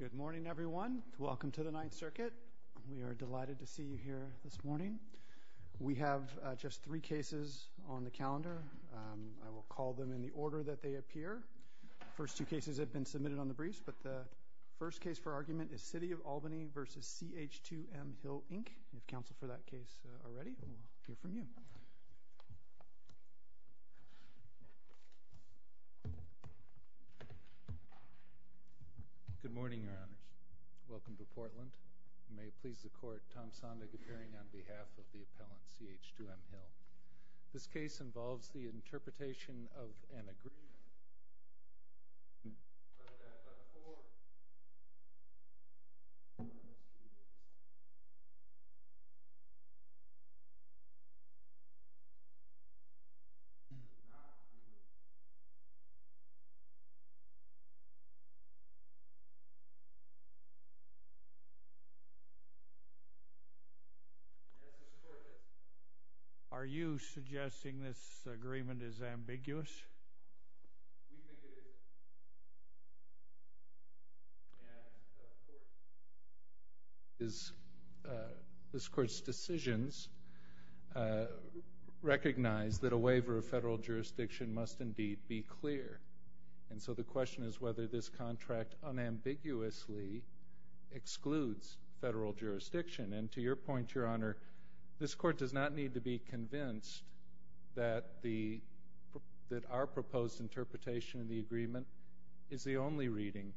Good morning, everyone. Welcome to the Ninth Circuit. We are delighted to see you here this morning. We have just three cases on the calendar. I will call them in the order that they appear. The first two cases have been submitted on the briefs, but the first case for argument is City of Albany v. CH2M Hill, Inc. If counsel for that case are ready, we will hear from you. Good morning, Your Honors. Welcome to Portland. You may please the court. Tom Sondag appearing on behalf of the appellant, CH2M Hill. This case involves the interpretation of an agreement. Are you suggesting this agreement is ambiguous? We think it is. And this Court's decisions recognize that a waiver of federal jurisdiction must indeed be clear. And so the question is whether this contract unambiguously excludes federal jurisdiction. And to your point, Your Honor, this Court does not need to be convinced that our proposed interpretation of the agreement is the only reading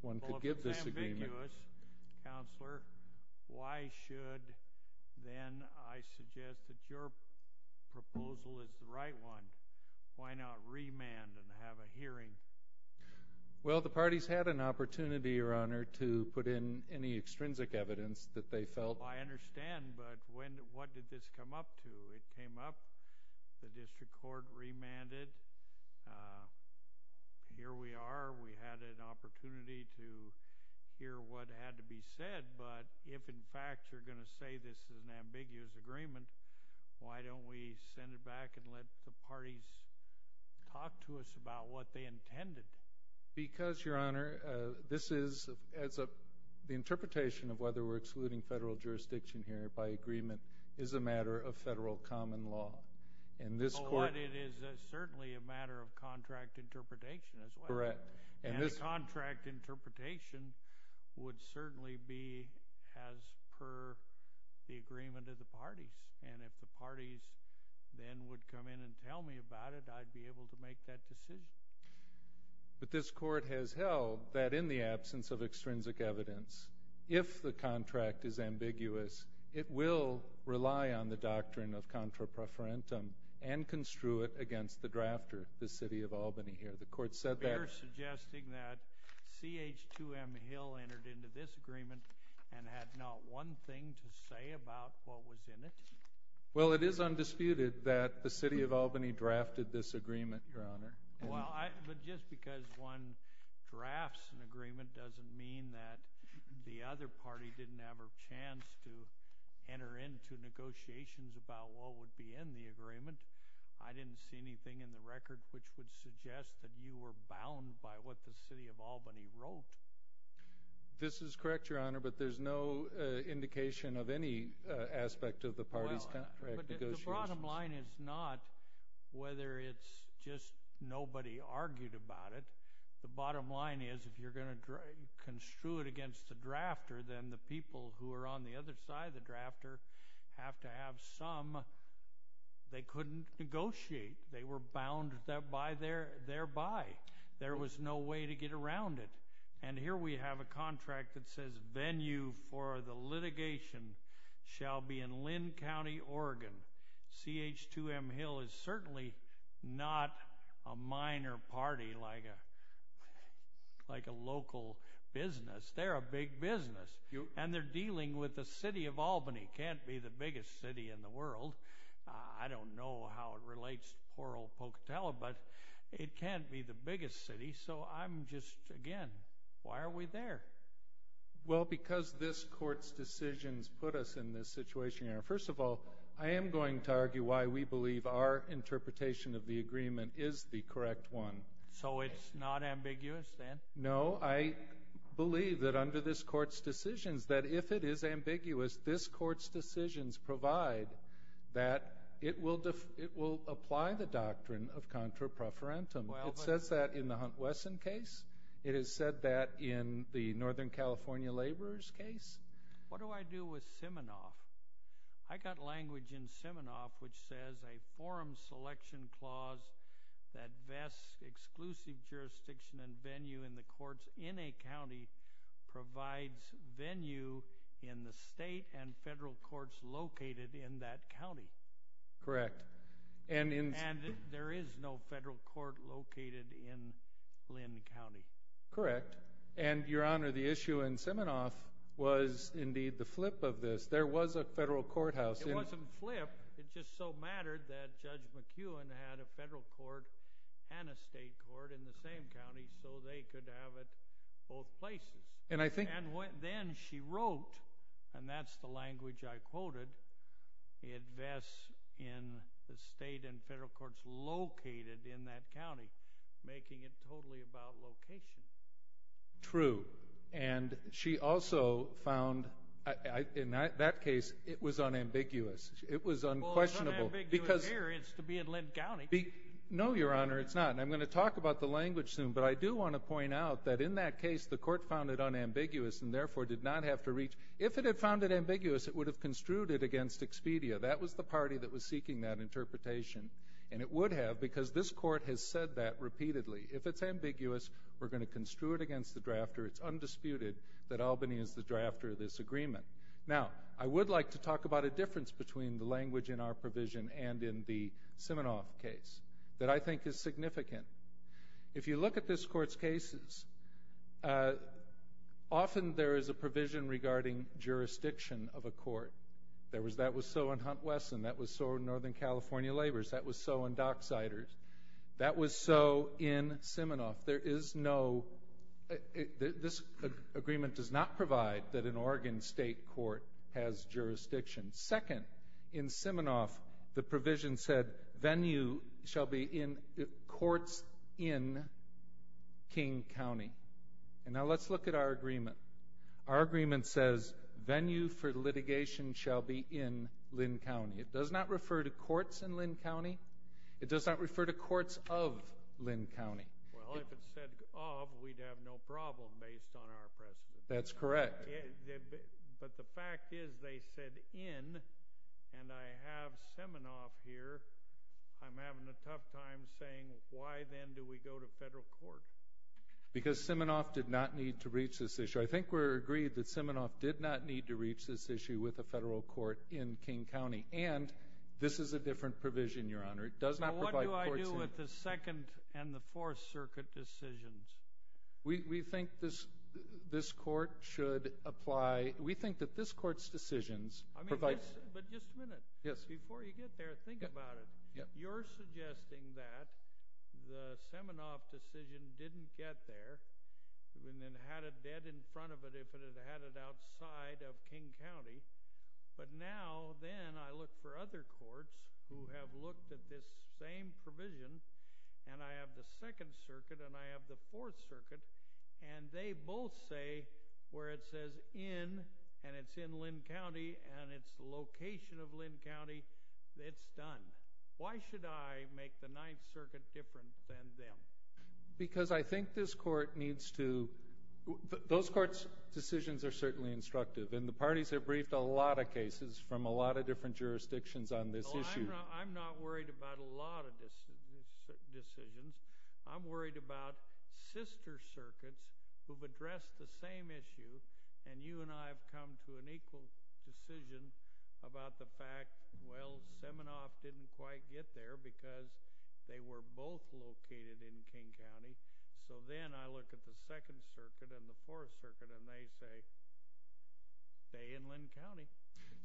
one could give this agreement. Well, if it's ambiguous, Counselor, why should then I suggest that your proposal is the right one? Why not remand and have a hearing? Well, the parties had an opportunity, Your Honor, to put in any extrinsic evidence that they felt... I understand, but what did this come up to? It came up, the district court remanded, here we are, we had an opportunity to hear what had to be said, but if, in fact, you're going to say this is an ambiguous agreement, why don't we send it back and let the parties talk to us about what they intended? Because, Your Honor, the interpretation of whether we're excluding federal jurisdiction here by agreement is a matter of federal common law. But it is certainly a matter of contract interpretation as well. And the contract interpretation would certainly be as per the agreement of the parties, and if the parties then would come in and tell me about it, I'd be able to make that decision. But this Court has held that in the absence of extrinsic evidence, if the contract is ambiguous, it will rely on the doctrine of contra preferentum and construe it against the drafter, the City of Albany here. The Court said that... You're suggesting that CH2M Hill entered into this agreement and had not one thing to say about what was in it? Well, it is undisputed that the City of Albany drafted this agreement, Your Honor. Well, but just because one drafts an agreement doesn't mean that the other party didn't have a chance to enter into negotiations about what would be in the agreement. I didn't see anything in the record which would suggest that you were bound by what the City of Albany wrote. This is correct, Your Honor, but there's no indication of any aspect of the parties' contract negotiations. Well, but the bottom line is not whether it's just nobody argued about it. The bottom line is if you're going to construe it against the drafter, then the people who are on the other side of the drafter have to have some. They couldn't negotiate. They were bound thereby. There was no way to get around it, and here we have a contract that says venue for the litigation shall be in Linn County, Oregon. CH2M Hill is certainly not a minor party like a local business. They're a big business, and they're dealing with the City of Albany. Albany can't be the biggest city in the world. I don't know how it relates to poor old Pocatello, but it can't be the biggest city, so I'm just, again, why are we there? Well, because this Court's decisions put us in this situation, Your Honor. First of all, I am going to argue why we believe our interpretation of the agreement is the correct one. So it's not ambiguous then? No, I believe that under this Court's decisions, that if it is ambiguous, this Court's decisions provide that it will apply the doctrine of contra preferentum. It says that in the Hunt-Wesson case. It has said that in the Northern California laborers case. What do I do with Siminoff? I got language in Siminoff which says a forum selection clause that vests exclusive jurisdiction and venue in the courts in a county provides venue in the state and federal courts located in that county. Correct. And there is no federal court located in Linn County. Correct. And, Your Honor, the issue in Siminoff was indeed the flip of this. There was a federal courthouse. It wasn't flip. It just so mattered that Judge McEwen had a federal court and a state court in the same county so they could have it both places. And then she wrote, and that's the language I quoted, it vests in the state and federal courts located in that county, making it totally about location. True. And she also found in that case it was unambiguous. It was unquestionable. Well, it's unambiguous here. It's to be in Linn County. No, Your Honor, it's not. And I'm going to talk about the language soon, but I do want to point out that in that case the court found it unambiguous and therefore did not have to reach. If it had found it ambiguous, it would have construed it against Expedia. That was the party that was seeking that interpretation. And it would have because this court has said that repeatedly. If it's ambiguous, we're going to construe it against the drafter. It's undisputed that Albany is the drafter of this agreement. Now, I would like to talk about a difference between the language in our provision and in the Siminoff case that I think is significant. If you look at this court's cases, often there is a provision regarding jurisdiction of a court. That was so in Hunt-Wesson. That was so in Northern California Labors. That was so in Docksiders. That was so in Siminoff. There is no – this agreement does not provide that an Oregon state court has jurisdiction. Second, in Siminoff, the provision said venue shall be in courts in King County. And now let's look at our agreement. Our agreement says venue for litigation shall be in Lynn County. It does not refer to courts in Lynn County. It does not refer to courts of Lynn County. Well, if it said of, we'd have no problem based on our precedent. That's correct. But the fact is they said in, and I have Siminoff here. I'm having a tough time saying why then do we go to federal court? Because Siminoff did not need to reach this issue. I think we're agreed that Siminoff did not need to reach this issue with a federal court in King County. And this is a different provision, Your Honor. It does not provide courts in – What do I do with the Second and the Fourth Circuit decisions? We think this court should apply – we think that this court's decisions provide – But just a minute. Yes. Before you get there, think about it. You're suggesting that the Siminoff decision didn't get there and then had it dead in front of it if it had had it outside of King County. But now then I look for other courts who have looked at this same provision and I have the Second Circuit and I have the Fourth Circuit and they both say where it says in and it's in Lynn County and it's the location of Lynn County, it's done. Why should I make the Ninth Circuit different than them? Because I think this court needs to – those courts' decisions are certainly instructive. And the parties have briefed a lot of cases from a lot of different jurisdictions on this issue. I'm not worried about a lot of decisions. I'm worried about sister circuits who have addressed the same issue and you and I have come to an equal decision about the fact, well, Siminoff didn't quite get there because they were both located in King County. So then I look at the Second Circuit and the Fourth Circuit and they say they're in Lynn County.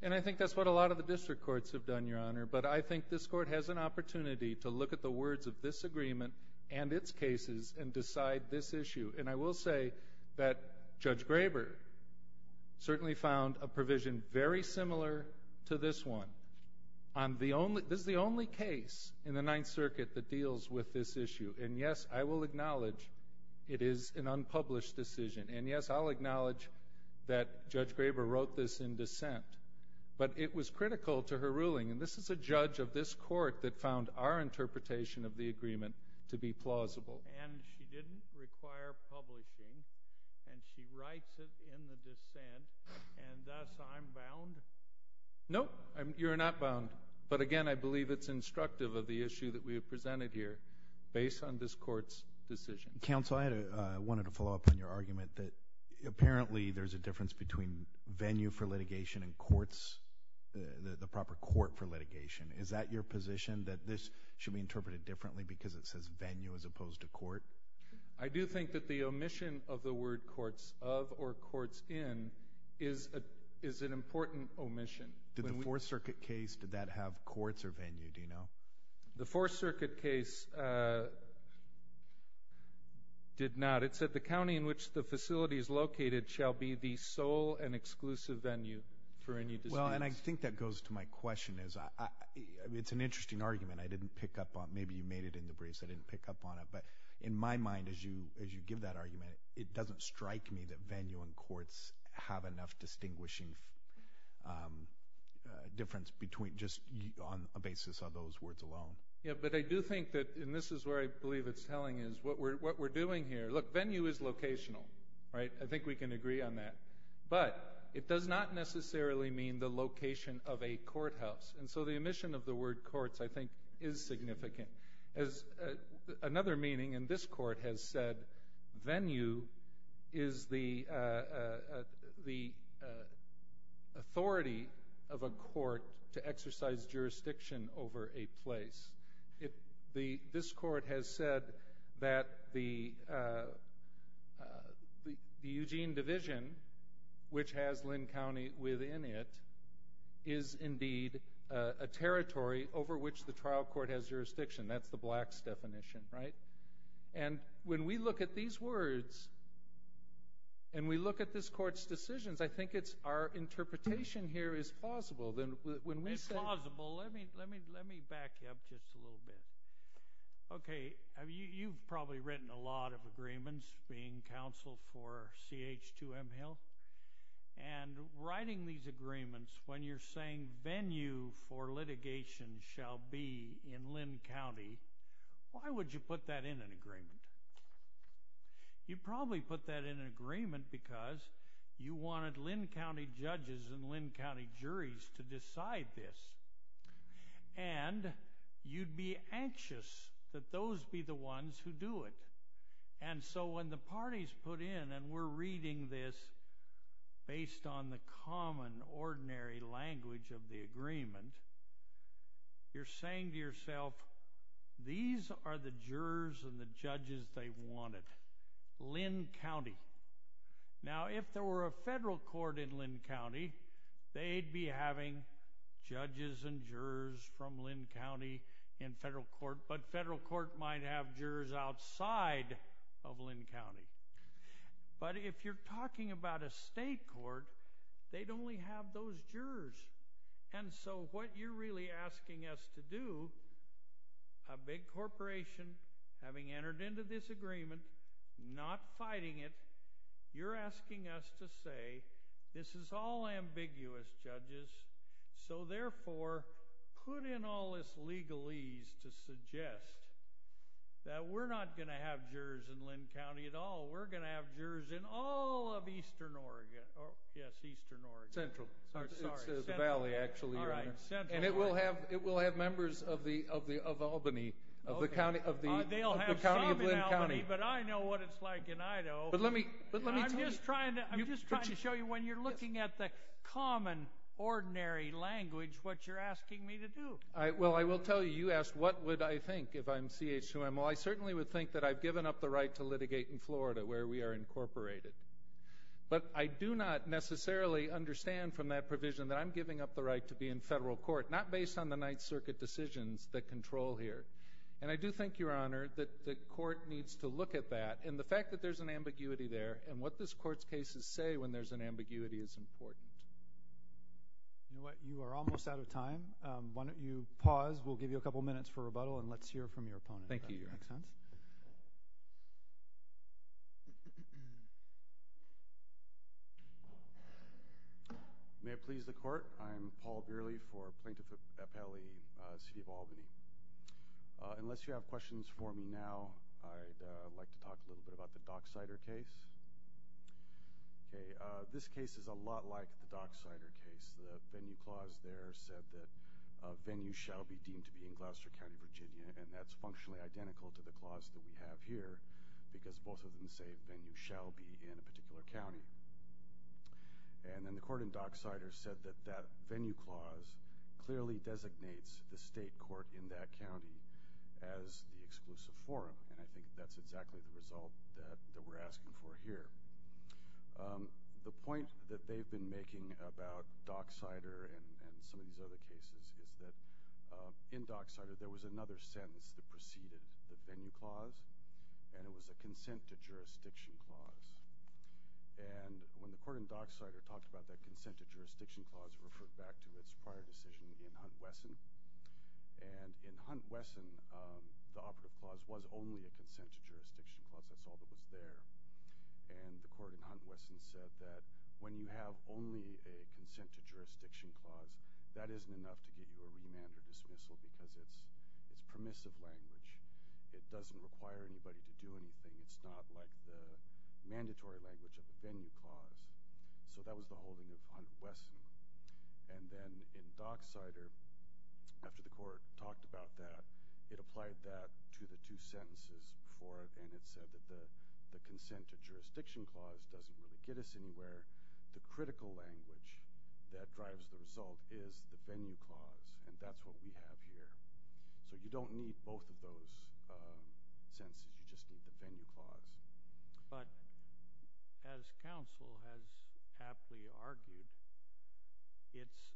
And I think that's what a lot of the district courts have done, Your Honor. But I think this court has an opportunity to look at the words of this agreement and its cases and decide this issue. And I will say that Judge Graber certainly found a provision very similar to this one. This is the only case in the Ninth Circuit that deals with this issue. And, yes, I will acknowledge it is an unpublished decision. And, yes, I'll acknowledge that Judge Graber wrote this in dissent. But it was critical to her ruling, and this is a judge of this court that found our interpretation of the agreement to be plausible. And she didn't require publishing, and she writes it in the dissent, and thus I'm bound? No, you're not bound. But, again, I believe it's instructive of the issue that we have presented here based on this court's decision. Counsel, I wanted to follow up on your argument that apparently there's a difference between venue for litigation and courts, the proper court for litigation. Is that your position, that this should be interpreted differently because it says venue as opposed to court? I do think that the omission of the word courts of or courts in is an important omission. Did the Fourth Circuit case, did that have courts or venue, do you know? The Fourth Circuit case did not. It said the county in which the facility is located shall be the sole and exclusive venue for any dispute. Well, and I think that goes to my question. It's an interesting argument. I didn't pick up on it. Maybe you made it in the briefs. I didn't pick up on it. But in my mind, as you give that argument, it doesn't strike me that venue and courts have enough distinguishing difference just on the basis of those words alone. Yeah, but I do think that, and this is where I believe it's telling, is what we're doing here. Look, venue is locational. I think we can agree on that. But it does not necessarily mean the location of a courthouse. And so the omission of the word courts, I think, is significant. Another meaning, and this court has said, venue is the authority of a court to exercise jurisdiction over a place. This court has said that the Eugene Division, which has Linn County within it, is indeed a territory over which the trial court has jurisdiction. That's the blacks' definition, right? And when we look at these words and we look at this court's decisions, I think our interpretation here is plausible. It's plausible. Let me back you up just a little bit. Okay, you've probably written a lot of agreements, being counsel for CH2M Health, and writing these agreements when you're saying venue for litigation shall be in Linn County, why would you put that in an agreement? You probably put that in an agreement because you wanted Linn County judges and Linn County juries to decide this, and you'd be anxious that those be the ones who do it. And so when the parties put in, and we're reading this based on the common, ordinary language of the agreement, you're saying to yourself, these are the jurors and the judges they wanted, Linn County. Now, if there were a federal court in Linn County, they'd be having judges and jurors from Linn County in federal court, but federal court might have jurors outside of Linn County. But if you're talking about a state court, they'd only have those jurors. And so what you're really asking us to do, a big corporation having entered into this agreement, not fighting it, you're asking us to say, this is all ambiguous, judges, so therefore put in all this legalese to suggest that we're not going to have jurors in Linn County at all. We're going to have jurors in all of eastern Oregon. Yes, eastern Oregon. It's the valley, actually, Your Honor. And it will have members of Albany, of the county of Linn County. They'll have some in Albany, but I know what it's like in Idaho. I'm just trying to show you when you're looking at the common, ordinary language what you're asking me to do. Well, I will tell you, you asked what would I think if I'm CH2MO. I certainly would think that I've given up the right to litigate in Florida where we are incorporated. But I do not necessarily understand from that provision that I'm giving up the right to be in federal court, not based on the Ninth Circuit decisions that control here. And I do think, Your Honor, that the court needs to look at that, and the fact that there's an ambiguity there, and what this court's cases say when there's an ambiguity is important. You know what? You are almost out of time. Why don't you pause? We'll give you a couple of minutes for rebuttal, and let's hear from your opponent. Thank you, Your Honor. Next, Hans. May it please the Court? I'm Paul Bearley for Plaintiff Appellee, City of Albany. Unless you have questions for me now, I'd like to talk a little bit about the Docksider case. This case is a lot like the Docksider case. The venue clause there said that a venue shall be deemed to be in Gloucester County, Virginia, and that's functionally identical to the clause that we have here because both of them say venue shall be in a particular county. And then the court in Docksider said that that venue clause clearly designates the state court in that county as the exclusive forum, and I think that's exactly the result that we're asking for here. The point that they've been making about Docksider and some of these other cases is that in Docksider, there was another sentence that preceded the venue clause, and it was a consent to jurisdiction clause. And when the court in Docksider talked about that consent to jurisdiction clause, it referred back to its prior decision in Hunt-Wesson. And in Hunt-Wesson, the operative clause was only a consent to jurisdiction clause. That's all that was there. And the court in Hunt-Wesson said that when you have only a consent to jurisdiction clause, that isn't enough to get you a remand or dismissal because it's permissive language. It doesn't require anybody to do anything. It's not like the mandatory language of the venue clause. So that was the holding of Hunt-Wesson. And then in Docksider, after the court talked about that, it applied that to the two sentences before it, and it said that the consent to jurisdiction clause doesn't really get us anywhere. The critical language that drives the result is the venue clause, and that's what we have here. So you don't need both of those sentences. You just need the venue clause. But as counsel has aptly argued, it's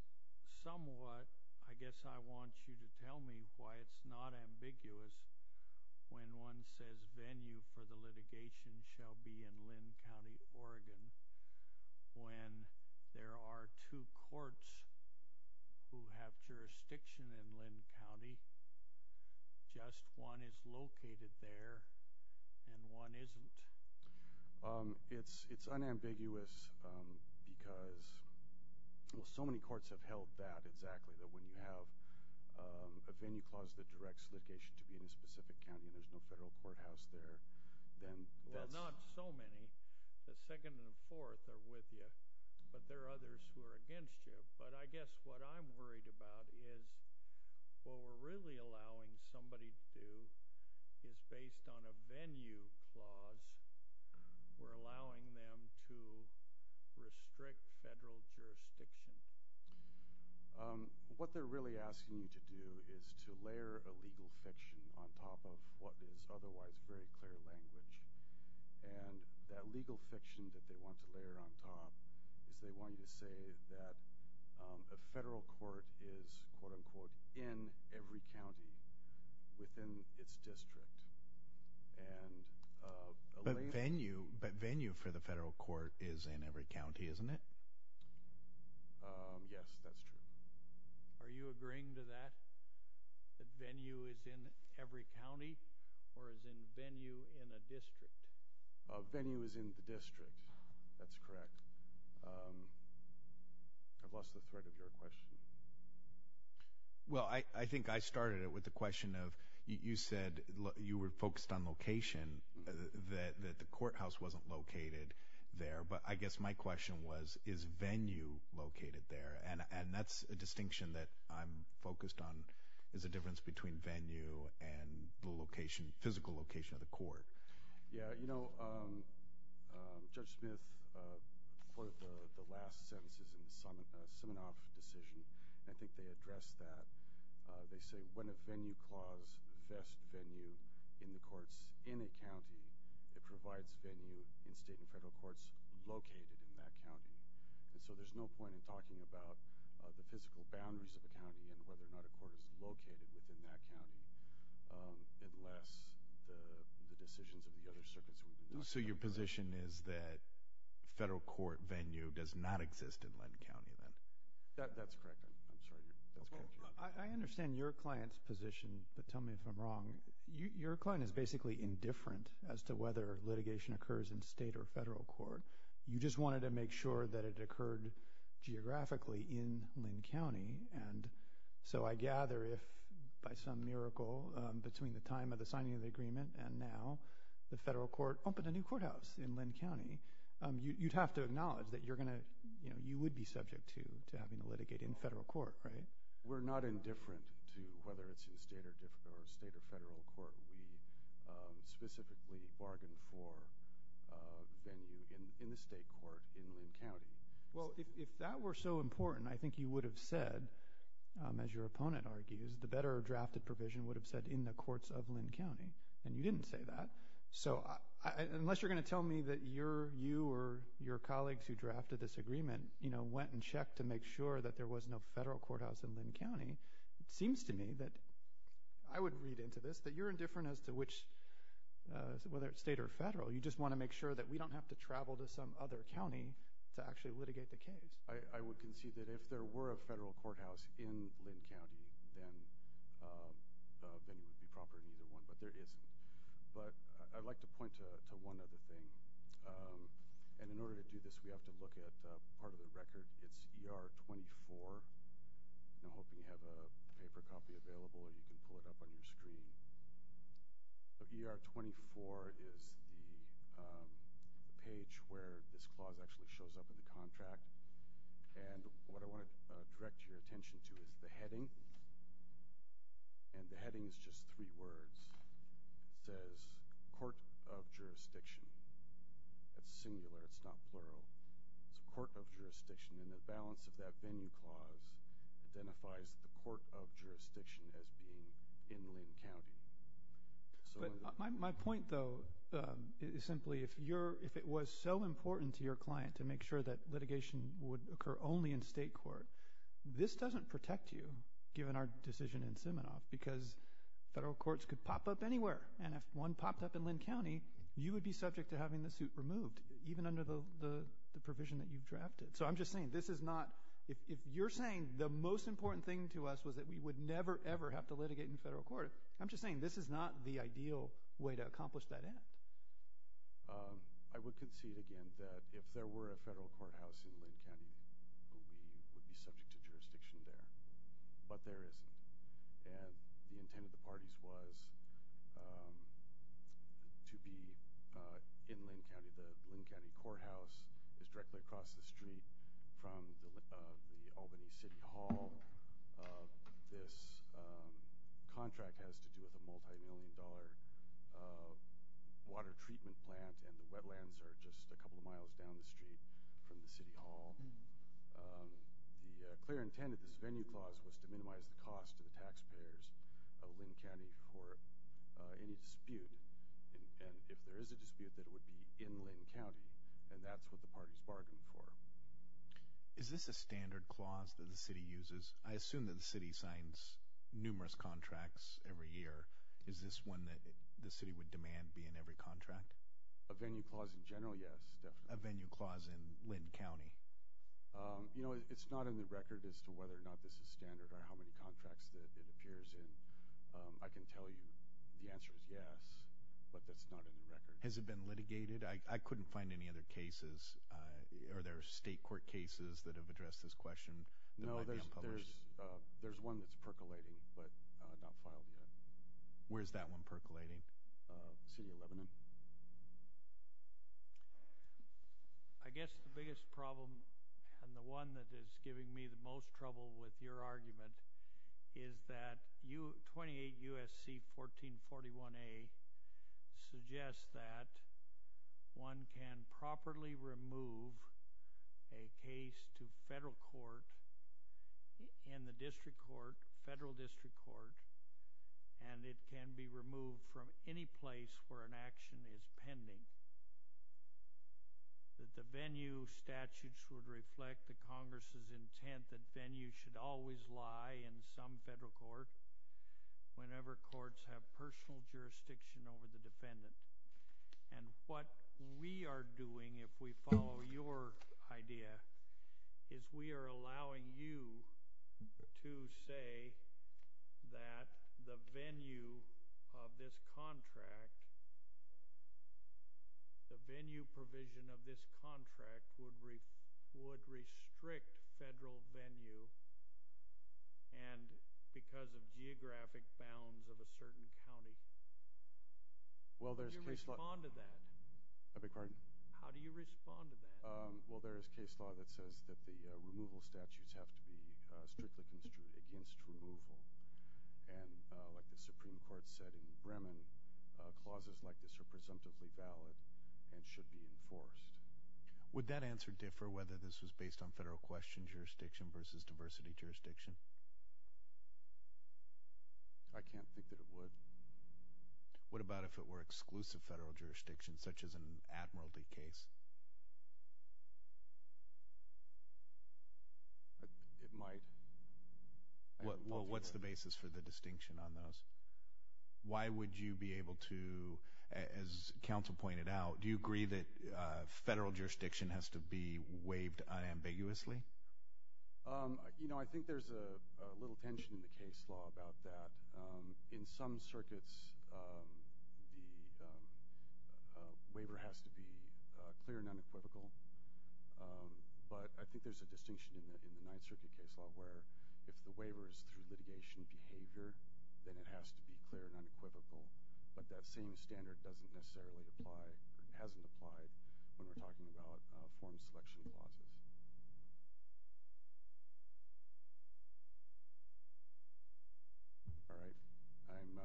somewhat, I guess I want you to tell me why it's not ambiguous when one says venue for the litigation shall be in Linn County, Oregon, when there are two courts who have jurisdiction in Linn County, just one is located there and one isn't. It's unambiguous because, well, so many courts have held that exactly, that when you have a venue clause that directs litigation to be in a specific county and there's no federal courthouse there, then that's... Well, not so many. The second and the fourth are with you, but there are others who are against you. But I guess what I'm worried about is what we're really allowing somebody to do is based on a venue clause, we're allowing them to restrict federal jurisdiction. What they're really asking you to do is to layer a legal fiction on top of what is otherwise very clear language. And that legal fiction that they want to layer on top is they want you to say that a federal court is, quote-unquote, in every county within its district. But venue for the federal court is in every county, isn't it? Yes, that's true. Are you agreeing to that, that venue is in every county or is venue in a district? Venue is in the district. That's correct. I've lost the thread of your question. Well, I think I started it with the question of you said you were focused on location, that the courthouse wasn't located there. But I guess my question was, is venue located there? And that's a distinction that I'm focused on, is the difference between venue and the physical location of the court. Yeah, you know, Judge Smith, for the last sentences in the Simonoff decision, I think they addressed that. They say when a venue clause vests venue in the courts in a county, it provides venue in state and federal courts located in that county. And so there's no point in talking about the physical boundaries of a county unless the decisions of the other circuits were done. So your position is that federal court venue does not exist in Linn County, then? That's correct. I'm sorry. I understand your client's position, but tell me if I'm wrong. Your client is basically indifferent as to whether litigation occurs in state or federal court. You just wanted to make sure that it occurred geographically in Linn County. And so I gather if by some miracle between the time of the signing of the agreement and now the federal court opened a new courthouse in Linn County, you'd have to acknowledge that you would be subject to having a litigate in federal court, right? We're not indifferent to whether it's in state or federal court. We specifically bargain for venue in the state court in Linn County. Well, if that were so important, I think you would have said, as your opponent argues, the better drafted provision would have said in the courts of Linn County. And you didn't say that. So unless you're going to tell me that you or your colleagues who drafted this agreement went and checked to make sure that there was no federal courthouse in Linn County, it seems to me that I would read into this that you're indifferent as to whether it's state or federal. You just want to make sure that we don't have to travel to some other county to actually litigate the case. I would concede that if there were a federal courthouse in Linn County, then it would be proper in either one. But there isn't. But I'd like to point to one other thing. And in order to do this, we have to look at part of the record. It's ER 24. I'm hoping you have a paper copy available. You can pull it up on your screen. ER 24 is the page where this clause actually shows up in the contract. And what I want to direct your attention to is the heading. And the heading is just three words. It says, Court of Jurisdiction. That's singular. It's a court of jurisdiction. And the balance of that venue clause identifies the court of jurisdiction as being in Linn County. But my point, though, is simply if it was so important to your client to make sure that litigation would occur only in state court, this doesn't protect you, given our decision in Siminoff, because federal courts could pop up anywhere. And if one popped up in Linn County, you would be subject to having the suit removed, even under the provision that you've drafted. So I'm just saying this is not – if you're saying the most important thing to us was that we would never, ever have to litigate in federal court, I'm just saying this is not the ideal way to accomplish that end. I would concede again that if there were a federal courthouse in Linn County, we would be subject to jurisdiction there. But there isn't. And the intent of the parties was to be in Linn County. The Linn County courthouse is directly across the street from the Albany City Hall. This contract has to do with a multimillion-dollar water treatment plant, and the wetlands are just a couple of miles down the street from the City Hall. The clear intent of this venue clause was to minimize the cost to the taxpayers of Linn County for any dispute. And if there is a dispute, that it would be in Linn County, and that's what the parties bargained for. Is this a standard clause that the City uses? I assume that the City signs numerous contracts every year. Is this one that the City would demand be in every contract? A venue clause in general, yes. A venue clause in Linn County? You know, it's not in the record as to whether or not this is standard or how many contracts it appears in. I can tell you the answer is yes, but that's not in the record. Has it been litigated? I couldn't find any other cases. Are there state court cases that have addressed this question? No, there's one that's percolating but not filed yet. Where is that one percolating? The City of Lebanon. I guess the biggest problem and the one that is giving me the most trouble with your argument is that 28 U.S.C. 1441A suggests that one can properly remove a case to federal court and the district court, federal district court, and it can be removed from any place where an action is pending. The venue statutes would reflect the Congress' intent that venues should always lie in some federal court whenever courts have personal jurisdiction over the defendant. And what we are doing, if we follow your idea, is we are allowing you to say that the venue of this contract, the venue provision of this contract would restrict federal venue because of geographic bounds of a certain county. Would you respond to that? I beg your pardon? How do you respond to that? Well, there is case law that says that the removal statutes have to be strictly construed against removal. And like the Supreme Court said in Bremen, clauses like this are presumptively valid and should be enforced. Would that answer differ whether this was based on federal question jurisdiction versus diversity jurisdiction? I can't think that it would. What about if it were exclusive federal jurisdiction, such as an Admiralty case? It might. Well, what's the basis for the distinction on those? Why would you be able to, as counsel pointed out, do you agree that federal jurisdiction has to be waived unambiguously? You know, I think there's a little tension in the case law about that. In some circuits, the waiver has to be clear and unequivocal. But I think there's a distinction in the Ninth Circuit case law where if the waiver is through litigation behavior, then it has to be clear and unequivocal. But that same standard doesn't necessarily apply, hasn't applied when we're talking about form selection clauses. All right. I'm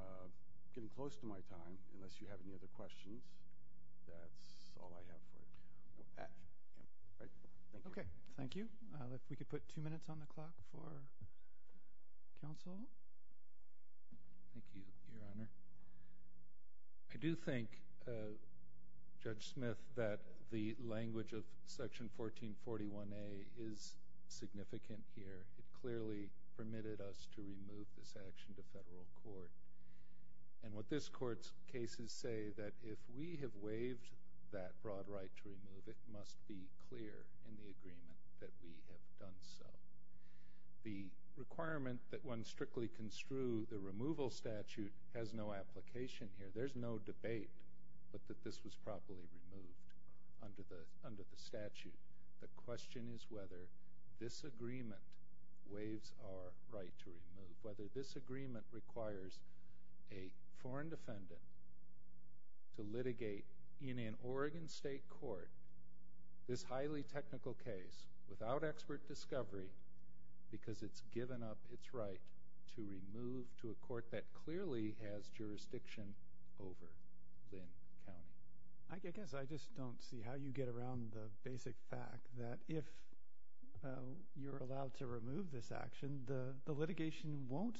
getting close to my time. Unless you have any other questions, that's all I have for you. Okay. Thank you. If we could put two minutes on the clock for counsel. Thank you, Your Honor. I do think, Judge Smith, that the language of Section 1441A is significant here. It clearly permitted us to remove this action to federal court. And what this Court's cases say, that if we have waived that broad right to remove it, it must be clear in the agreement that we have done so. The requirement that one strictly construe the removal statute has no application here. There's no debate that this was properly removed under the statute. The question is whether this agreement waives our right to remove, whether this agreement requires a foreign defendant to litigate in an Oregon State court this highly technical case without expert discovery because it's given up its right to remove to a court that clearly has jurisdiction over Linn County. I guess I just don't see how you get around the basic fact that if you're allowed to remove this action, the litigation won't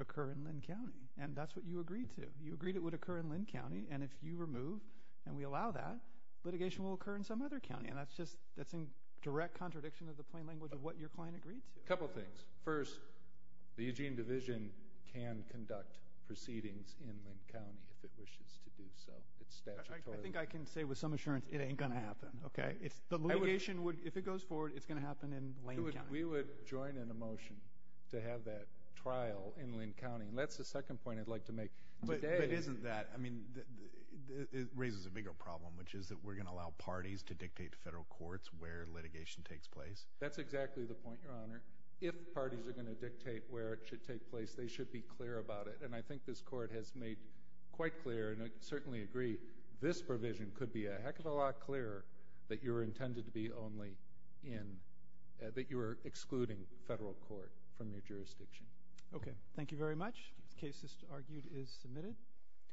occur in Linn County. And that's what you agreed to. You agreed it would occur in Linn County, and if you remove and we allow that, litigation will occur in some other county, and that's in direct contradiction of the plain language of what your client agreed to. A couple things. First, the Eugene Division can conduct proceedings in Linn County if it wishes to do so. It's statutory. I think I can say with some assurance it ain't going to happen. The litigation, if it goes forward, it's going to happen in Linn County. We would join in a motion to have that trial in Linn County, and that's the second point I'd like to make. But isn't that, I mean, it raises a bigger problem, which is that we're going to allow parties to dictate to federal courts where litigation takes place. That's exactly the point, Your Honor. If parties are going to dictate where it should take place, they should be clear about it. And I think this Court has made quite clear, and I certainly agree, this provision could be a heck of a lot clearer that you were intended to be only in, that you were excluding federal court from your jurisdiction. Okay. Thank you very much. The case, as argued, is submitted.